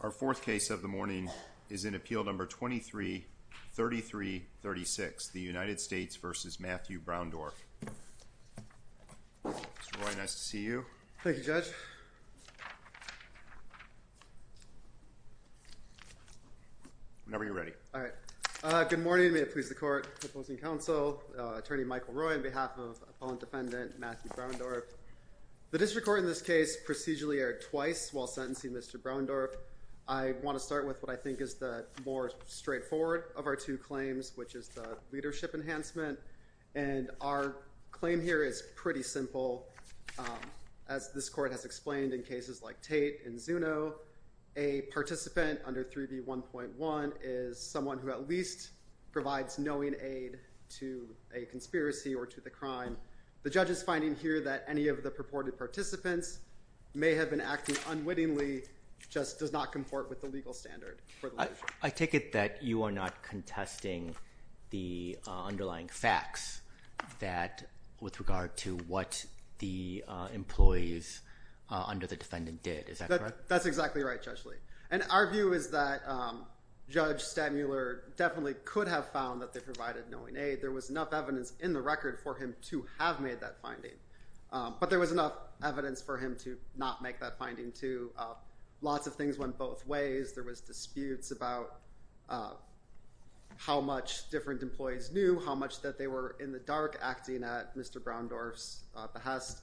Our fourth case of the morning is in Appeal No. 23-33-36, the United States v. Matthew Browndorf. Mr. Roy, nice to see you. Thank you, Judge. Whenever you're ready. All right. Good morning. May it please the Court. Opposing counsel, Attorney Michael Roy on behalf of Opponent Defendant Matthew Browndorf. The District Court in this case procedurally erred twice while sentencing Mr. Browndorf. I want to start with what I think is the more straightforward of our two claims, which is the leadership enhancement. And our claim here is pretty simple. As this Court has explained in cases like Tate and Zuno, a participant under 3B1.1 is someone who at least provides knowing aid to a conspiracy or to the crime. The judge is finding here that any of the purported participants may have been acting unwittingly, just does not comport with the legal standard. I take it that you are not contesting the underlying facts with regard to what the employees under the defendant did. Is that correct? That's exactly right, Judge Lee. And our view is that Judge Stadmuller definitely could have found that they provided knowing aid. There was enough evidence in the record for him to have made that finding. But there was enough evidence for him to not make that finding too. Lots of things went both ways. There was disputes about how much different employees knew, how much that they were in the dark acting at Mr. Browndorf's behest.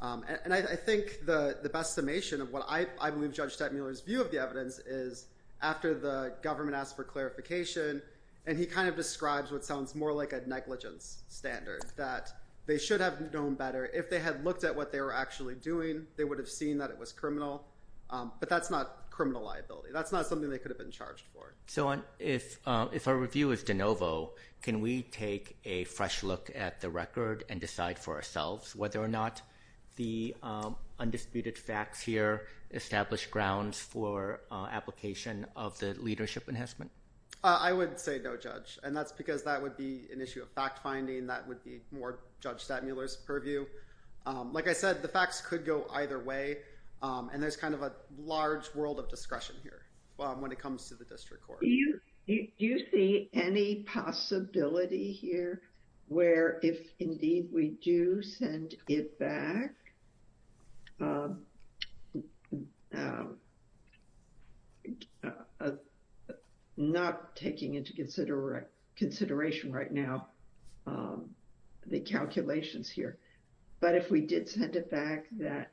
And I think the best summation of what I believe Judge Stadmuller's view of the evidence is, after the government asked for clarification, and he kind of describes what sounds more like a negligence standard, that they should have known better. If they had looked at what they were actually doing, they would have seen that it was criminal. But that's not criminal liability. That's not something they could have been charged for. So if our review is de novo, can we take a fresh look at the record and decide for ourselves whether or not the undisputed facts here establish grounds for application of the leadership enhancement? I would say no, Judge. And that's because that would be an issue of fact-finding. That would be more Judge Stadmuller's purview. Like I said, the facts could go either way. And there's kind of a large world of discretion here when it comes to the district court. Do you see any possibility here where if indeed we do send it back, not taking into consideration right now the calculations here, but if we did send it back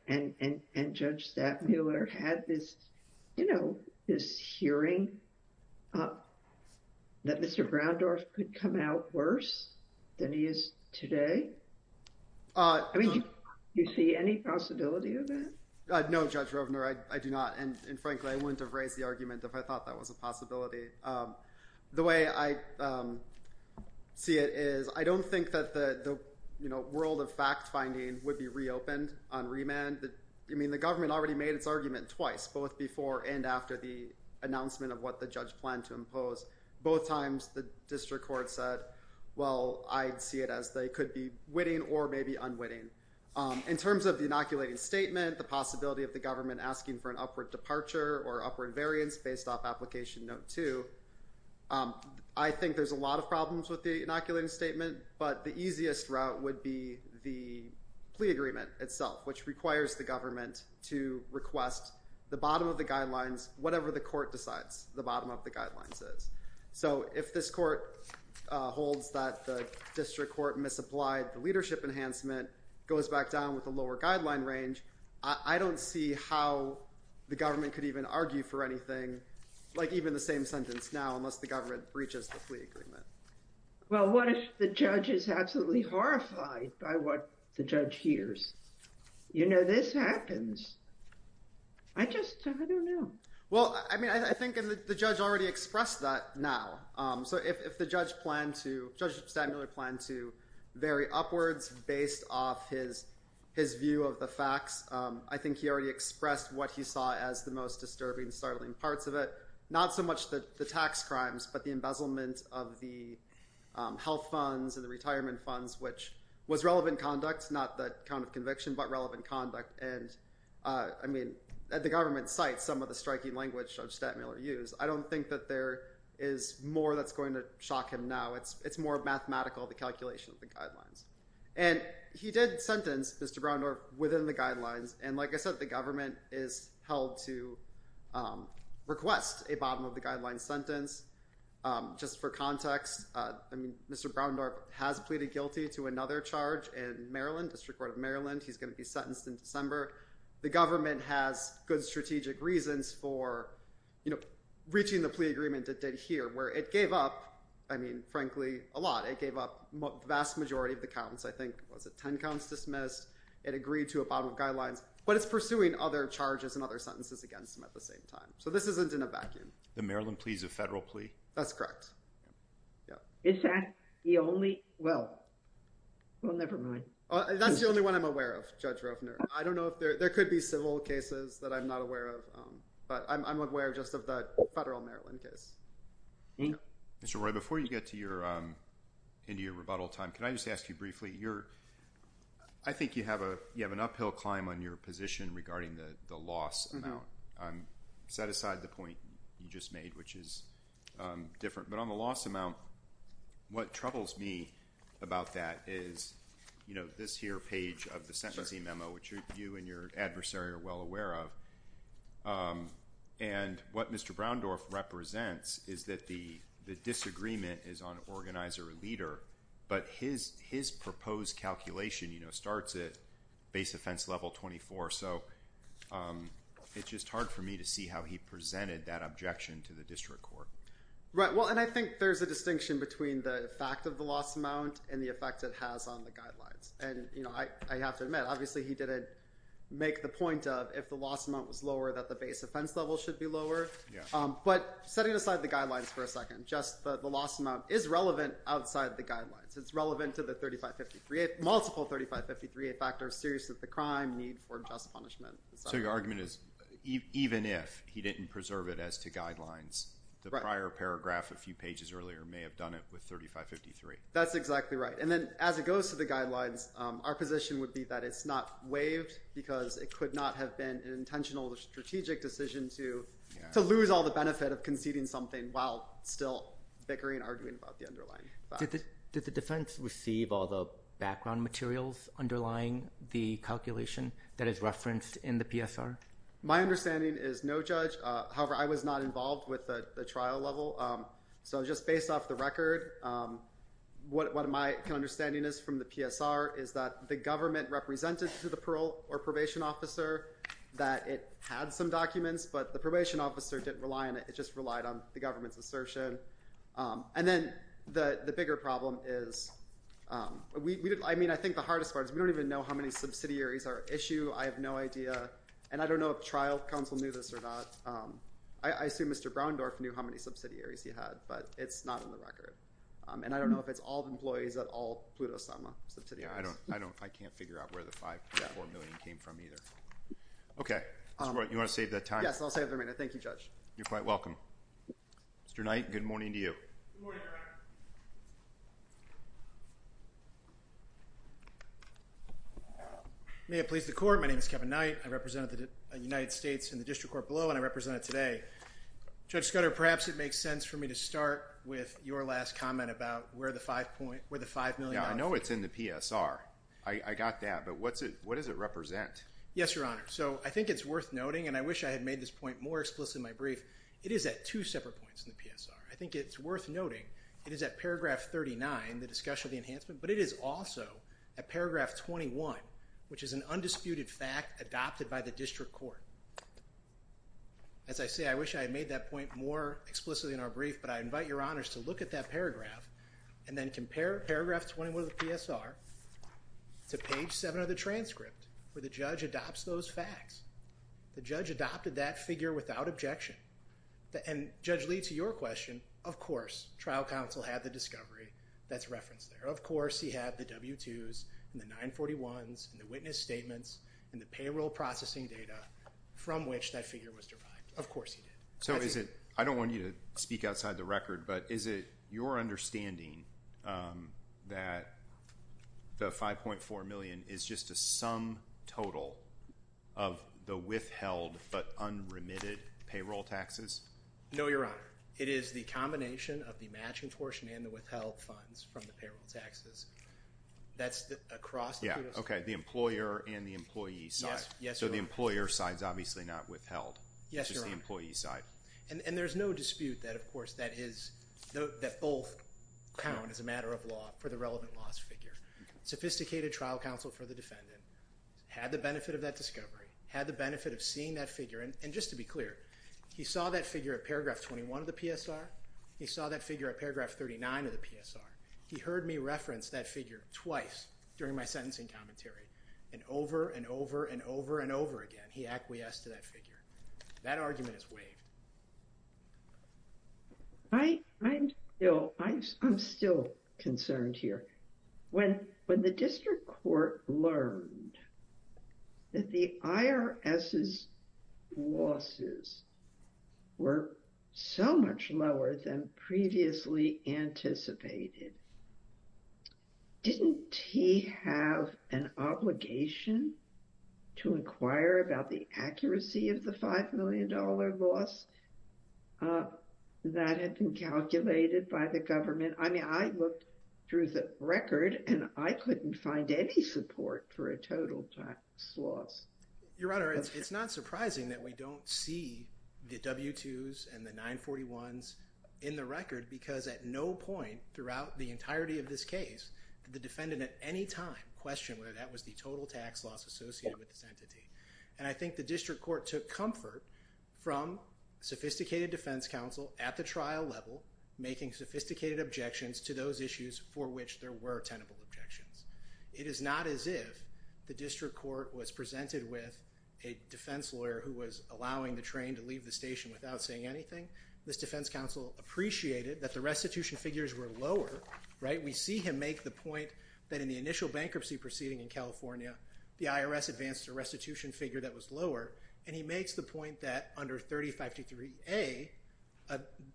and Judge Stadmuller had this hearing that Mr. Groundorf could come out worse than he is today? Do you see any possibility of that? No, Judge Rovner, I do not. And frankly, I wouldn't have raised the argument if I thought that was a possibility. The way I see it is I don't think that the world of fact-finding would be reopened on remand. I mean, the government already made its argument twice, both before and after the announcement of what the judge planned to impose. Both times the district court said, well, I'd see it as they could be witting or maybe unwitting. In terms of the inoculating statement, the possibility of the government asking for an upward departure or upward variance based off application note 2, I think there's a lot of problems with the inoculating statement, but the easiest route would be the plea agreement itself, which requires the government to request the bottom of the guidelines, whatever the court decides the bottom of the guidelines is. So if this court holds that the district court misapplied the leadership enhancement, goes back down with the lower guideline range, I don't see how the government could even argue for anything, like even the same sentence now, unless the government breaches the plea agreement. Well, what if the judge is absolutely horrified by what the judge hears? You know, this happens. I just, I don't know. Well, I mean, I think the judge already expressed that now. So if the judge planned to, Judge Stadmiller planned to vary upwards based off his view of the facts, I think he already expressed what he saw as the most disturbing, startling parts of it. Not so much the tax crimes, but the embezzlement of the health funds and the retirement funds, which was relevant conduct, not the count of conviction, but relevant conduct. And, I mean, the government cites some of the striking language Judge Stadmiller used. I don't think that there is more that's going to shock him now. It's more mathematical, the calculation of the guidelines. And he did sentence Mr. Browndorp within the guidelines, and like I said, the government is held to request a bottom of the guidelines sentence. Just for context, I mean, Mr. Browndorp has pleaded guilty to another charge in Maryland, District Court of Maryland. He's going to be sentenced in December. The government has good strategic reasons for, you know, reaching the plea agreement it did here, where it gave up, I mean, frankly, a lot. It gave up the vast majority of the counts. I think, was it 10 counts dismissed? It agreed to a bottom of guidelines. But it's pursuing other charges and other sentences against him at the same time. So this isn't in a vacuum. The Maryland plea is a federal plea? That's correct. Is that the only – well, never mind. That's the only one I'm aware of, Judge Rovner. I don't know if there – there could be civil cases that I'm not aware of. But I'm aware just of the federal Maryland case. Mr. Roy, before you get to your – into your rebuttal time, can I just ask you briefly? I think you have an uphill climb on your position regarding the loss amount. I'm – set aside the point you just made, which is different. But on the loss amount, what troubles me about that is, you know, this here page of the sentencing memo, which you and your adversary are well aware of, and what Mr. Browndorf represents is that the disagreement is on organizer or leader, but his proposed calculation, you know, starts at base offense level 24. So it's just hard for me to see how he presented that objection to the district court. Well, and I think there's a distinction between the fact of the loss amount and the effect it has on the guidelines. And, you know, I have to admit, obviously he didn't make the point of if the loss amount was lower, that the base offense level should be lower. But setting aside the guidelines for a second, just the loss amount is relevant outside the guidelines. It's relevant to the 3553A – multiple 3553A factors, seriousness of the crime, need for just punishment. So your argument is even if he didn't preserve it as to guidelines, the prior paragraph a few pages earlier may have done it with 3553. That's exactly right. And then as it goes to the guidelines, our position would be that it's not waived because it could not have been an intentional or strategic decision to lose all the benefit of conceding something while still bickering and arguing about the underlying fact. Did the defense receive all the background materials underlying the calculation that is referenced in the PSR? My understanding is no, Judge. However, I was not involved with the trial level. So just based off the record, what my understanding is from the PSR is that the government represented to the parole or probation officer that it had some documents, but the probation officer didn't rely on it. It just relied on the government's assertion. And then the bigger problem is, I mean, I think the hardest part is we don't even know how many subsidiaries are issued. I have no idea. And I don't know if trial counsel knew this or not. I assume Mr. Browndorf knew how many subsidiaries he had, but it's not in the record. And I don't know if it's all employees at all, Pluto Summa subsidiaries. I can't figure out where the 5.4 million came from either. Okay. You want to save that time? Yes, I'll save it for later. Thank you, Judge. You're quite welcome. Mr. Knight, good morning to you. Good morning, Your Honor. May it please the court, my name is Kevin Knight. I represent the United States in the district court below, and I represent it today. Judge Scudder, perhaps it makes sense for me to start with your last comment about where the $5 million comes from. Yeah, I know it's in the PSR. I got that. But what does it represent? Yes, Your Honor. So I think it's worth noting, and I wish I had made this point more explicit in my brief. It is at two separate points in the PSR. I think it's worth noting it is at paragraph 39, the discussion of the enhancement, but it is also at paragraph 21, which is an undisputed fact adopted by the district court. As I say, I wish I had made that point more explicitly in our brief, but I invite Your Honors to look at that paragraph and then compare paragraph 21 of the PSR to page 7 of the transcript where the judge adopts those facts. The judge adopted that figure without objection. And, Judge Lee, to your question, of course, trial counsel had the discovery that's referenced there. Of course, he had the W-2s and the 941s and the witness statements and the payroll processing data from which that figure was derived. Of course he did. So is it – I don't want you to speak outside the record, but is it your understanding that the $5.4 million is just a sum total of the withheld but unremitted payroll taxes? No, Your Honor. It is the combination of the matching portion and the withheld funds from the payroll taxes. That's across the two districts. Okay, the employer and the employee side. Yes, Your Honor. So the employer side is obviously not withheld. Yes, Your Honor. It's just the employee side. And there's no dispute that, of course, that both count as a matter of law for the relevant loss figure. Sophisticated trial counsel for the defendant had the benefit of that discovery, had the benefit of seeing that figure. And just to be clear, he saw that figure at paragraph 21 of the PSR. He saw that figure at paragraph 39 of the PSR. He heard me reference that figure twice during my sentencing commentary, and over and over and over and over again he acquiesced to that figure. That argument is waived. I'm still concerned here. When the district court learned that the IRS's losses were so much lower than previously anticipated, didn't he have an obligation to inquire about the accuracy of the $5 million loss that had been calculated by the government? I mean, I looked through the record, and I couldn't find any support for a total tax loss. Your Honor, it's not surprising that we don't see the W-2s and the 941s in the record because at no point throughout the entirety of this case did the defendant at any time question whether that was the total tax loss associated with this entity. And I think the district court took comfort from sophisticated defense counsel at the trial level making sophisticated objections to those issues for which there were tenable objections. It is not as if the district court was presented with a defense lawyer who was allowing the train to leave the station without saying anything. This defense counsel appreciated that the restitution figures were lower. We see him make the point that in the initial bankruptcy proceeding in California, the IRS advanced a restitution figure that was lower, and he makes the point that under 3523A,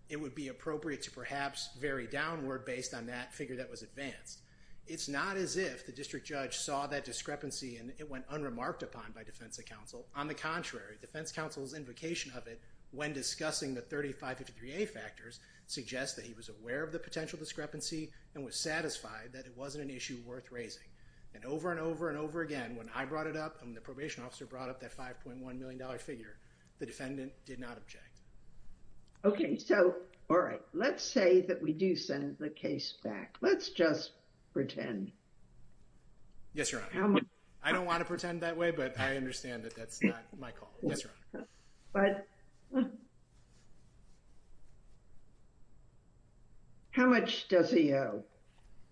it would be appropriate to perhaps vary downward based on that figure that was advanced. It's not as if the district judge saw that discrepancy and it went unremarked upon by defense counsel. On the contrary, defense counsel's invocation of it when discussing the 3523A factors suggests that he was aware of the potential discrepancy and was satisfied that it wasn't an issue worth raising. And over and over and over again, when I brought it up and the probation officer brought up that $5.1 million figure, the defendant did not object. Okay. So, all right. Let's say that we do send the case back. Let's just pretend. Yes, Your Honor. I don't want to pretend that way, but I understand that that's not my call. Yes, Your Honor. How much does he owe?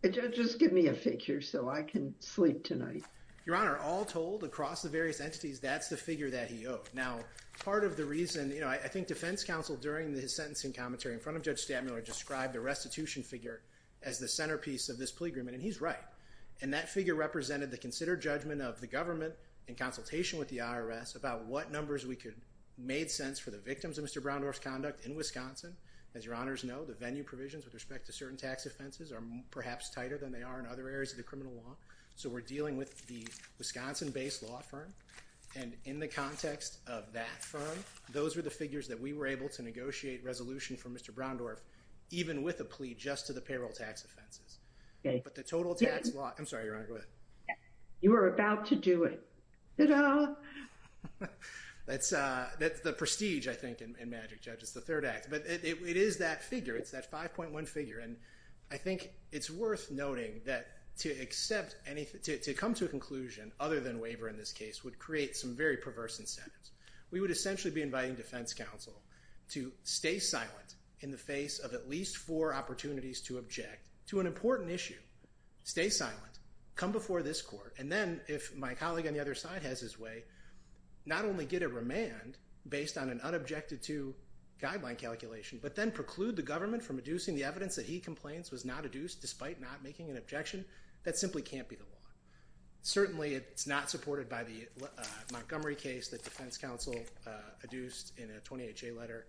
Just give me a figure so I can sleep tonight. Your Honor, all told, across the various entities, that's the figure that he owed. Now, part of the reason, you know, I think defense counsel, during his sentencing commentary in front of Judge Stantmiller, described the restitution figure as the centerpiece of this plea agreement, and he's right. And that figure represented the considered judgment of the government in consultation with the IRS about what numbers we could make sense for the victims of Mr. Browndorf's conduct in Wisconsin. As Your Honors know, the venue provisions with respect to certain tax offenses are perhaps tighter than they are in other areas of the criminal law. So we're dealing with the Wisconsin-based law firm. And in the context of that firm, those were the figures that we were able to negotiate resolution for Mr. Browndorf even with a plea just to the payroll tax offenses. But the total tax law—I'm sorry, Your Honor, go ahead. You were about to do it. That's the prestige, I think, in Magic Judge. It's the third act. But it is that figure. It's that 5.1 figure. And I think it's worth noting that to come to a conclusion other than waiver in this case would create some very perverse incentives. We would essentially be inviting defense counsel to stay silent in the face of at least four opportunities to object to an important issue. Stay silent. Come before this court. And then if my colleague on the other side has his way, not only get a remand based on an unobjected-to guideline calculation, but then preclude the government from adducing the evidence that he complains was not adduced despite not making an objection, that simply can't be the law. Certainly, it's not supported by the Montgomery case that defense counsel adduced in a 28-J letter.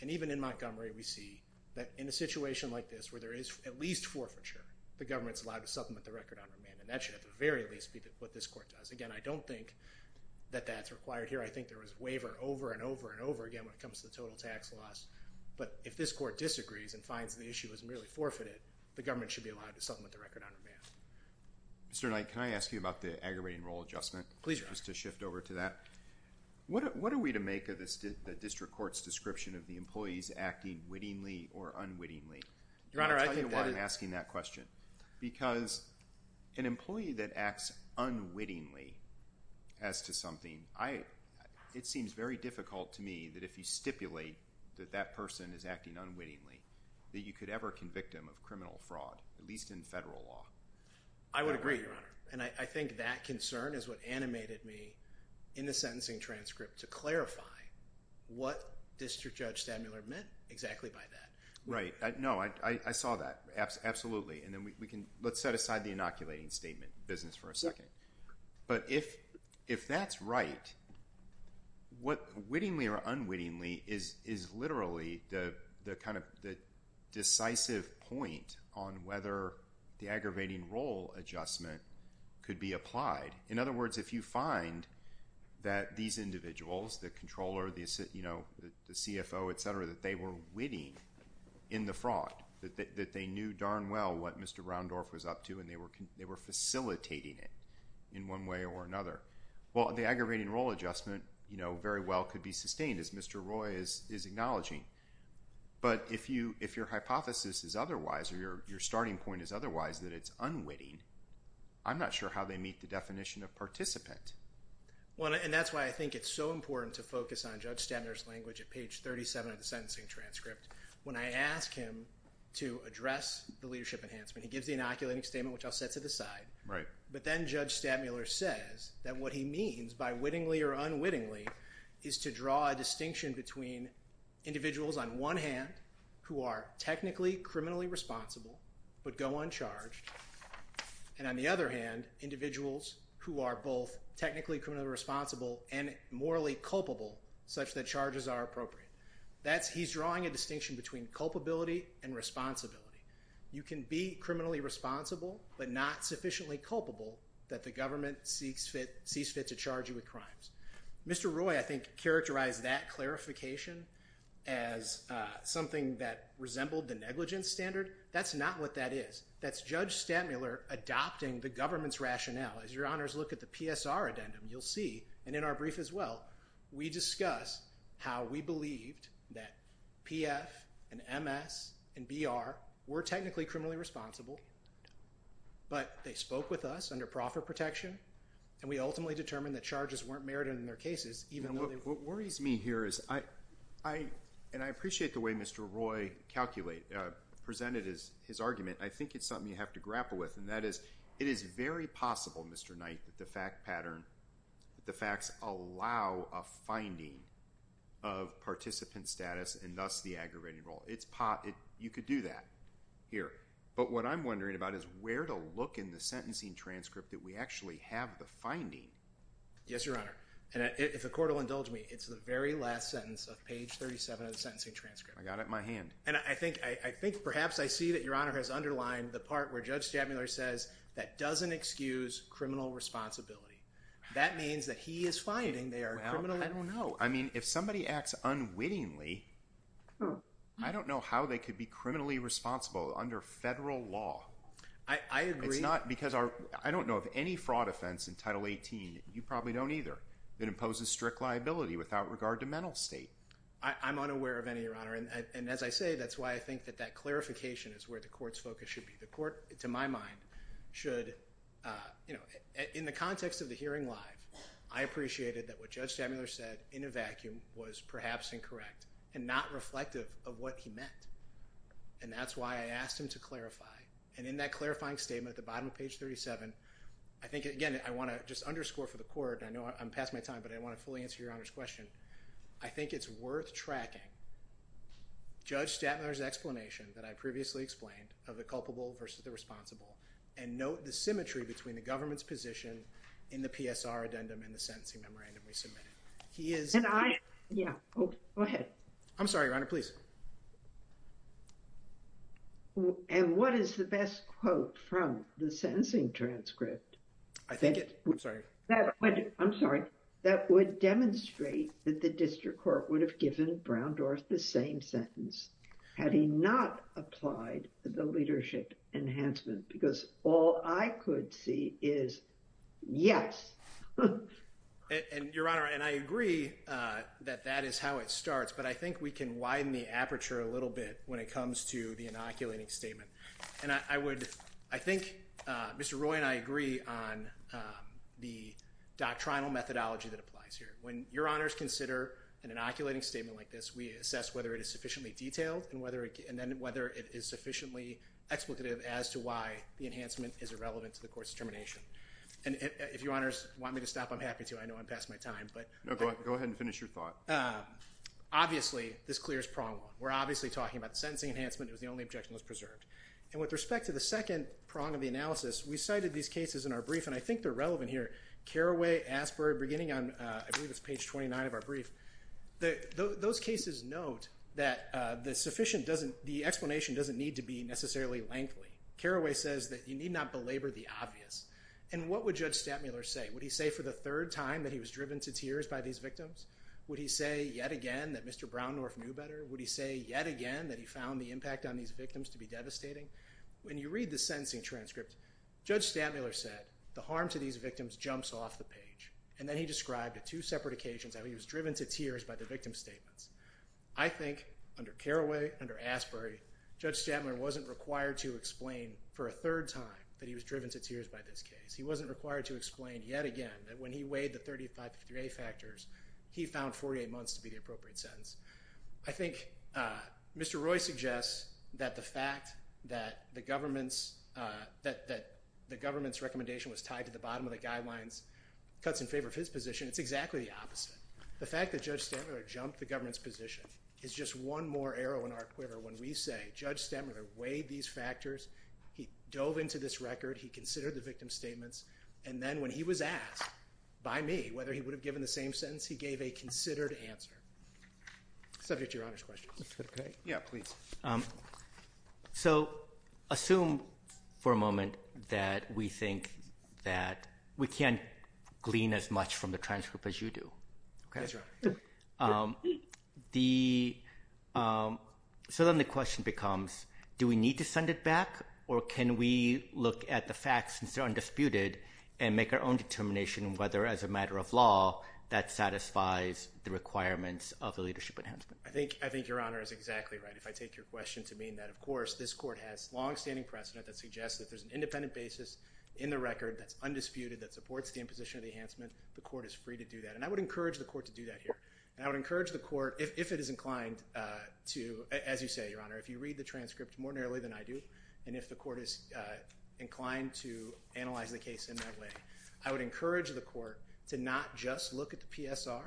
And even in Montgomery, we see that in a situation like this where there is at least forfeiture, the government's allowed to supplement the record on remand. And that should at the very least be what this court does. Again, I don't think that that's required here. I think there was waiver over and over and over again when it comes to the total tax laws. But if this court disagrees and finds the issue is merely forfeited, the government should be allowed to supplement the record on remand. Mr. Knight, can I ask you about the aggravating role adjustment? Please, Your Honor. Just to shift over to that. What are we to make of the district court's description of the employees acting wittingly or unwittingly? Your Honor, I think that is— I'll tell you why I'm asking that question. Because an employee that acts unwittingly as to something, it seems very difficult to me that if you stipulate that that person is acting unwittingly, that you could ever convict him of criminal fraud, at least in federal law. I would agree, Your Honor. And I think that concern is what animated me in the sentencing transcript to clarify what District Judge Stadmuller meant exactly by that. Right. No, I saw that. Absolutely. And then we can—let's set aside the inoculating statement business for a second. But if that's right, wittingly or unwittingly is literally the kind of decisive point on whether the aggravating role adjustment could be applied. In other words, if you find that these individuals, the controller, the CFO, et cetera, that they were witting in the fraud, that they knew darn well what Mr. Raundorf was up to and they were facilitating it in one way or another, well, the aggravating role adjustment very well could be sustained, as Mr. Roy is acknowledging. But if your hypothesis is otherwise or your starting point is otherwise that it's unwitting, I'm not sure how they meet the definition of participant. And that's why I think it's so important to focus on Judge Stadmuller's language at page 37 of the sentencing transcript. When I ask him to address the leadership enhancement, he gives the inoculating statement, which I'll set to the side. But then Judge Stadmuller says that what he means by wittingly or unwittingly is to draw a distinction between individuals on one hand who are technically criminally responsible but go uncharged, and on the other hand, individuals who are both technically criminally responsible and morally culpable such that charges are appropriate. He's drawing a distinction between culpability and responsibility. You can be criminally responsible but not sufficiently culpable that the government sees fit to charge you with crimes. Mr. Roy, I think, characterized that clarification as something that resembled the negligence standard. That's not what that is. That's Judge Stadmuller adopting the government's rationale. As your honors look at the PSR addendum, you'll see, and in our brief as well, we discuss how we believed that PF and MS and BR were technically criminally responsible, but they spoke with us under profit protection, and we ultimately determined that charges weren't merited in their cases, even though they were. What worries me here is, and I appreciate the way Mr. Roy presented his argument, I think it's something you have to grapple with, and that is, it is very possible, Mr. Knight, that the facts allow a finding of participant status and thus the aggravating role. You could do that here, but what I'm wondering about is where to look in the sentencing transcript that we actually have the finding. Yes, your honor, and if the court will indulge me, it's the very last sentence of page 37 of the sentencing transcript. I got it in my hand. And I think perhaps I see that your honor has underlined the part where Judge Stadmuller says that doesn't excuse criminal responsibility. That means that he is finding they are criminal. Well, I don't know. I mean, if somebody acts unwittingly, I don't know how they could be criminally responsible under federal law. I agree. It's not because our, I don't know of any fraud offense in Title 18, you probably don't either, that imposes strict liability without regard to mental state. I'm unaware of any, your honor. And as I say, that's why I think that that clarification is where the court's focus should be. The court, to my mind, should, you know, in the context of the hearing live, I appreciated that what Judge Stadmuller said in a vacuum was perhaps incorrect and not reflective of what he meant. And that's why I asked him to clarify. And in that clarifying statement at the bottom of page 37, I think, again, I want to just underscore for the court, and I know I'm past my time, but I want to fully answer your honor's question. I think it's worth tracking Judge Stadmuller's explanation that I previously explained of the culpable versus the responsible and note the symmetry between the government's position in the PSR addendum and the sentencing memorandum we submitted. He is. And I, yeah, go ahead. I'm sorry, your honor, please. And what is the best quote from the sentencing transcript? I think it. I'm sorry. I'm sorry. That would demonstrate that the district court would have given Brown Dorff the same sentence had he not applied the leadership enhancement. Because all I could see is yes. And your honor, and I agree that that is how it starts, but I think we can widen the aperture a little bit when it comes to the inoculating statement. And I would, I think Mr. Roy and I agree on the doctrinal methodology that applies here. When your honors consider an inoculating statement like this, we assess whether it is sufficiently detailed and then whether it is sufficiently explicative as to why the enhancement is irrelevant to the court's determination. And if your honors want me to stop, I'm happy to. I know I'm past my time, but. No, go ahead and finish your thought. Obviously, this clears prong one. We're obviously talking about the sentencing enhancement. It was the only objection that was preserved. And with respect to the second prong of the analysis, we cited these cases in our brief, and I think they're relevant here. Carraway, Asbury, beginning on, I believe it's page 29 of our brief. Those cases note that the explanation doesn't need to be necessarily lengthy. Carraway says that you need not belabor the obvious. And what would Judge Stattmuller say? Would he say for the third time that he was driven to tears by these victims? Would he say yet again that Mr. Brown Dorff knew better? Would he say yet again that he found the impact on these victims to be devastating? When you read the sentencing transcript, Judge Stattmuller said the harm to these victims jumps off the page. And then he described two separate occasions that he was driven to tears by the victim's statements. I think under Carraway, under Asbury, Judge Stattmuller wasn't required to explain for a third time that he was driven to tears by this case. He wasn't required to explain yet again that when he weighed the 35-53A factors, he found 48 months to be the appropriate sentence. I think Mr. Roy suggests that the fact that the government's recommendation was tied to the bottom of the guidelines cuts in favor of his position. It's exactly the opposite. The fact that Judge Stattmuller jumped the government's position is just one more arrow in our quiver when we say Judge Stattmuller weighed these factors, he dove into this record, he considered the victim's statements, and then when he was asked by me whether he would have given the same sentence, he gave a considered answer. Subject to Your Honor's questions. Yeah, please. So assume for a moment that we think that we can't glean as much from the transcript as you do. Yes, Your Honor. So then the question becomes do we need to send it back or can we look at the facts since they're undisputed and make our own determination whether as a matter of law that satisfies the requirements of the leadership enhancement? I think Your Honor is exactly right. If I take your question to mean that, of course, this court has long-standing precedent that suggests that there's an independent basis in the record that's undisputed that supports the imposition of the enhancement, the court is free to do that. And I would encourage the court to do that here. And I would encourage the court, if it is inclined to, as you say, Your Honor, if you read the transcript more narrowly than I do, and if the court is inclined to analyze the case in that way, I would encourage the court to not just look at the PSR.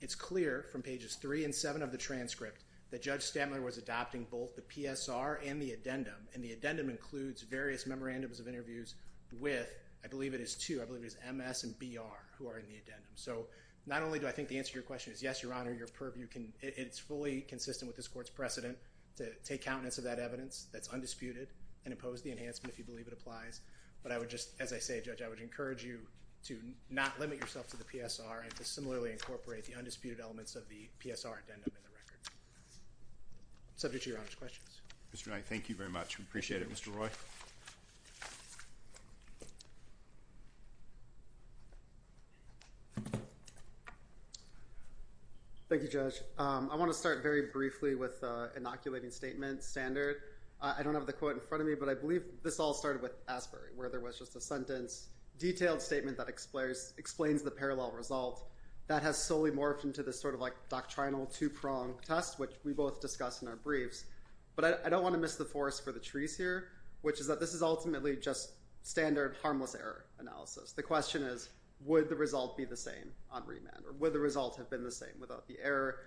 It's clear from pages 3 and 7 of the transcript that Judge Stantler was adopting both the PSR and the addendum. And the addendum includes various memorandums of interviews with, I believe it is two, I believe it is MS and BR who are in the addendum. So not only do I think the answer to your question is yes, Your Honor, your purview can, it's fully consistent with this court's precedent to take countenance of that evidence that's undisputed and impose the enhancement if you believe it applies. But I would just, as I say, Judge, I would encourage you to not limit yourself to the PSR and to similarly incorporate the undisputed elements of the PSR addendum in the record. Subject to Your Honor's questions. Mr. Knight, thank you very much. We appreciate it. Mr. Roy? Thank you, Judge. I want to start very briefly with the inoculating statement standard. I don't have the quote in front of me, but I believe this all started with Asbury where there was just a sentence, detailed statement that explains the parallel result that has solely morphed into this sort of like doctrinal two-prong test, which we both discussed in our briefs. But I don't want to miss the forest for the trees here, which is that this is ultimately just standard harmless error analysis. The question is, would the result be the same on remand or would the result have been the same without the error?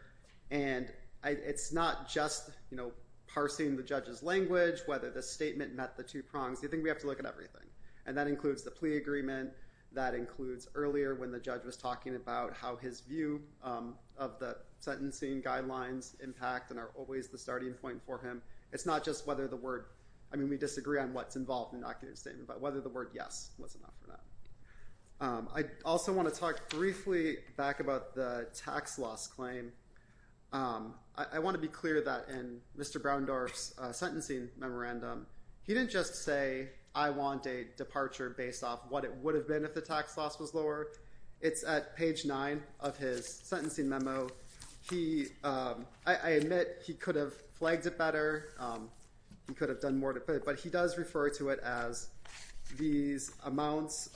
And it's not just, you know, parsing the judge's language, whether the statement met the two prongs. I think we have to look at everything. And that includes the plea agreement. That includes earlier when the judge was talking about how his view of the sentencing guidelines impact and are always the starting point for him. It's not just whether the word I mean, we disagree on what's involved in the statement, but whether the word yes was enough for that. I also want to talk briefly back about the tax loss claim. I want to be clear that in Mr. Browndorf's sentencing memorandum, he didn't just say I want a departure based off what it would have been if the tax loss was lower. It's at page nine of his sentencing memo. He I admit he could have flagged it better. He could have done more to it, but he does refer to it as these amounts.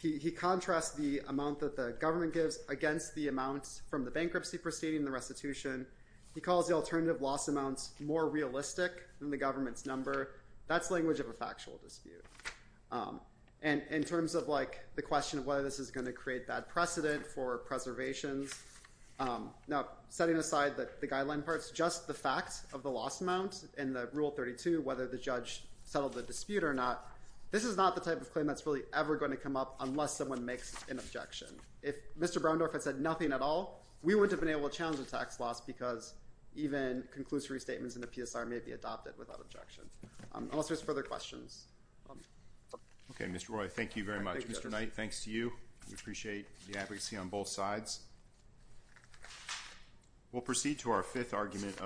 He contrasts the amount that the government gives against the amounts from the bankruptcy proceeding, the restitution. He calls the alternative loss amounts more realistic than the government's number. That's language of a factual dispute. And in terms of like the question of whether this is going to create bad precedent for preservations. Now, setting aside the guideline parts, just the facts of the loss amount and the rule 32, whether the judge settled the dispute or not. This is not the type of claim that's really ever going to come up unless someone makes an objection. If Mr. Browndorf had said nothing at all, we wouldn't have been able to challenge the tax loss because even conclusory statements in the PSR may be adopted without objection. Unless there's further questions. Okay, Mr. Roy, thank you very much. Mr. Knight, thanks to you. We appreciate the advocacy on both sides. We'll proceed to our fifth argument.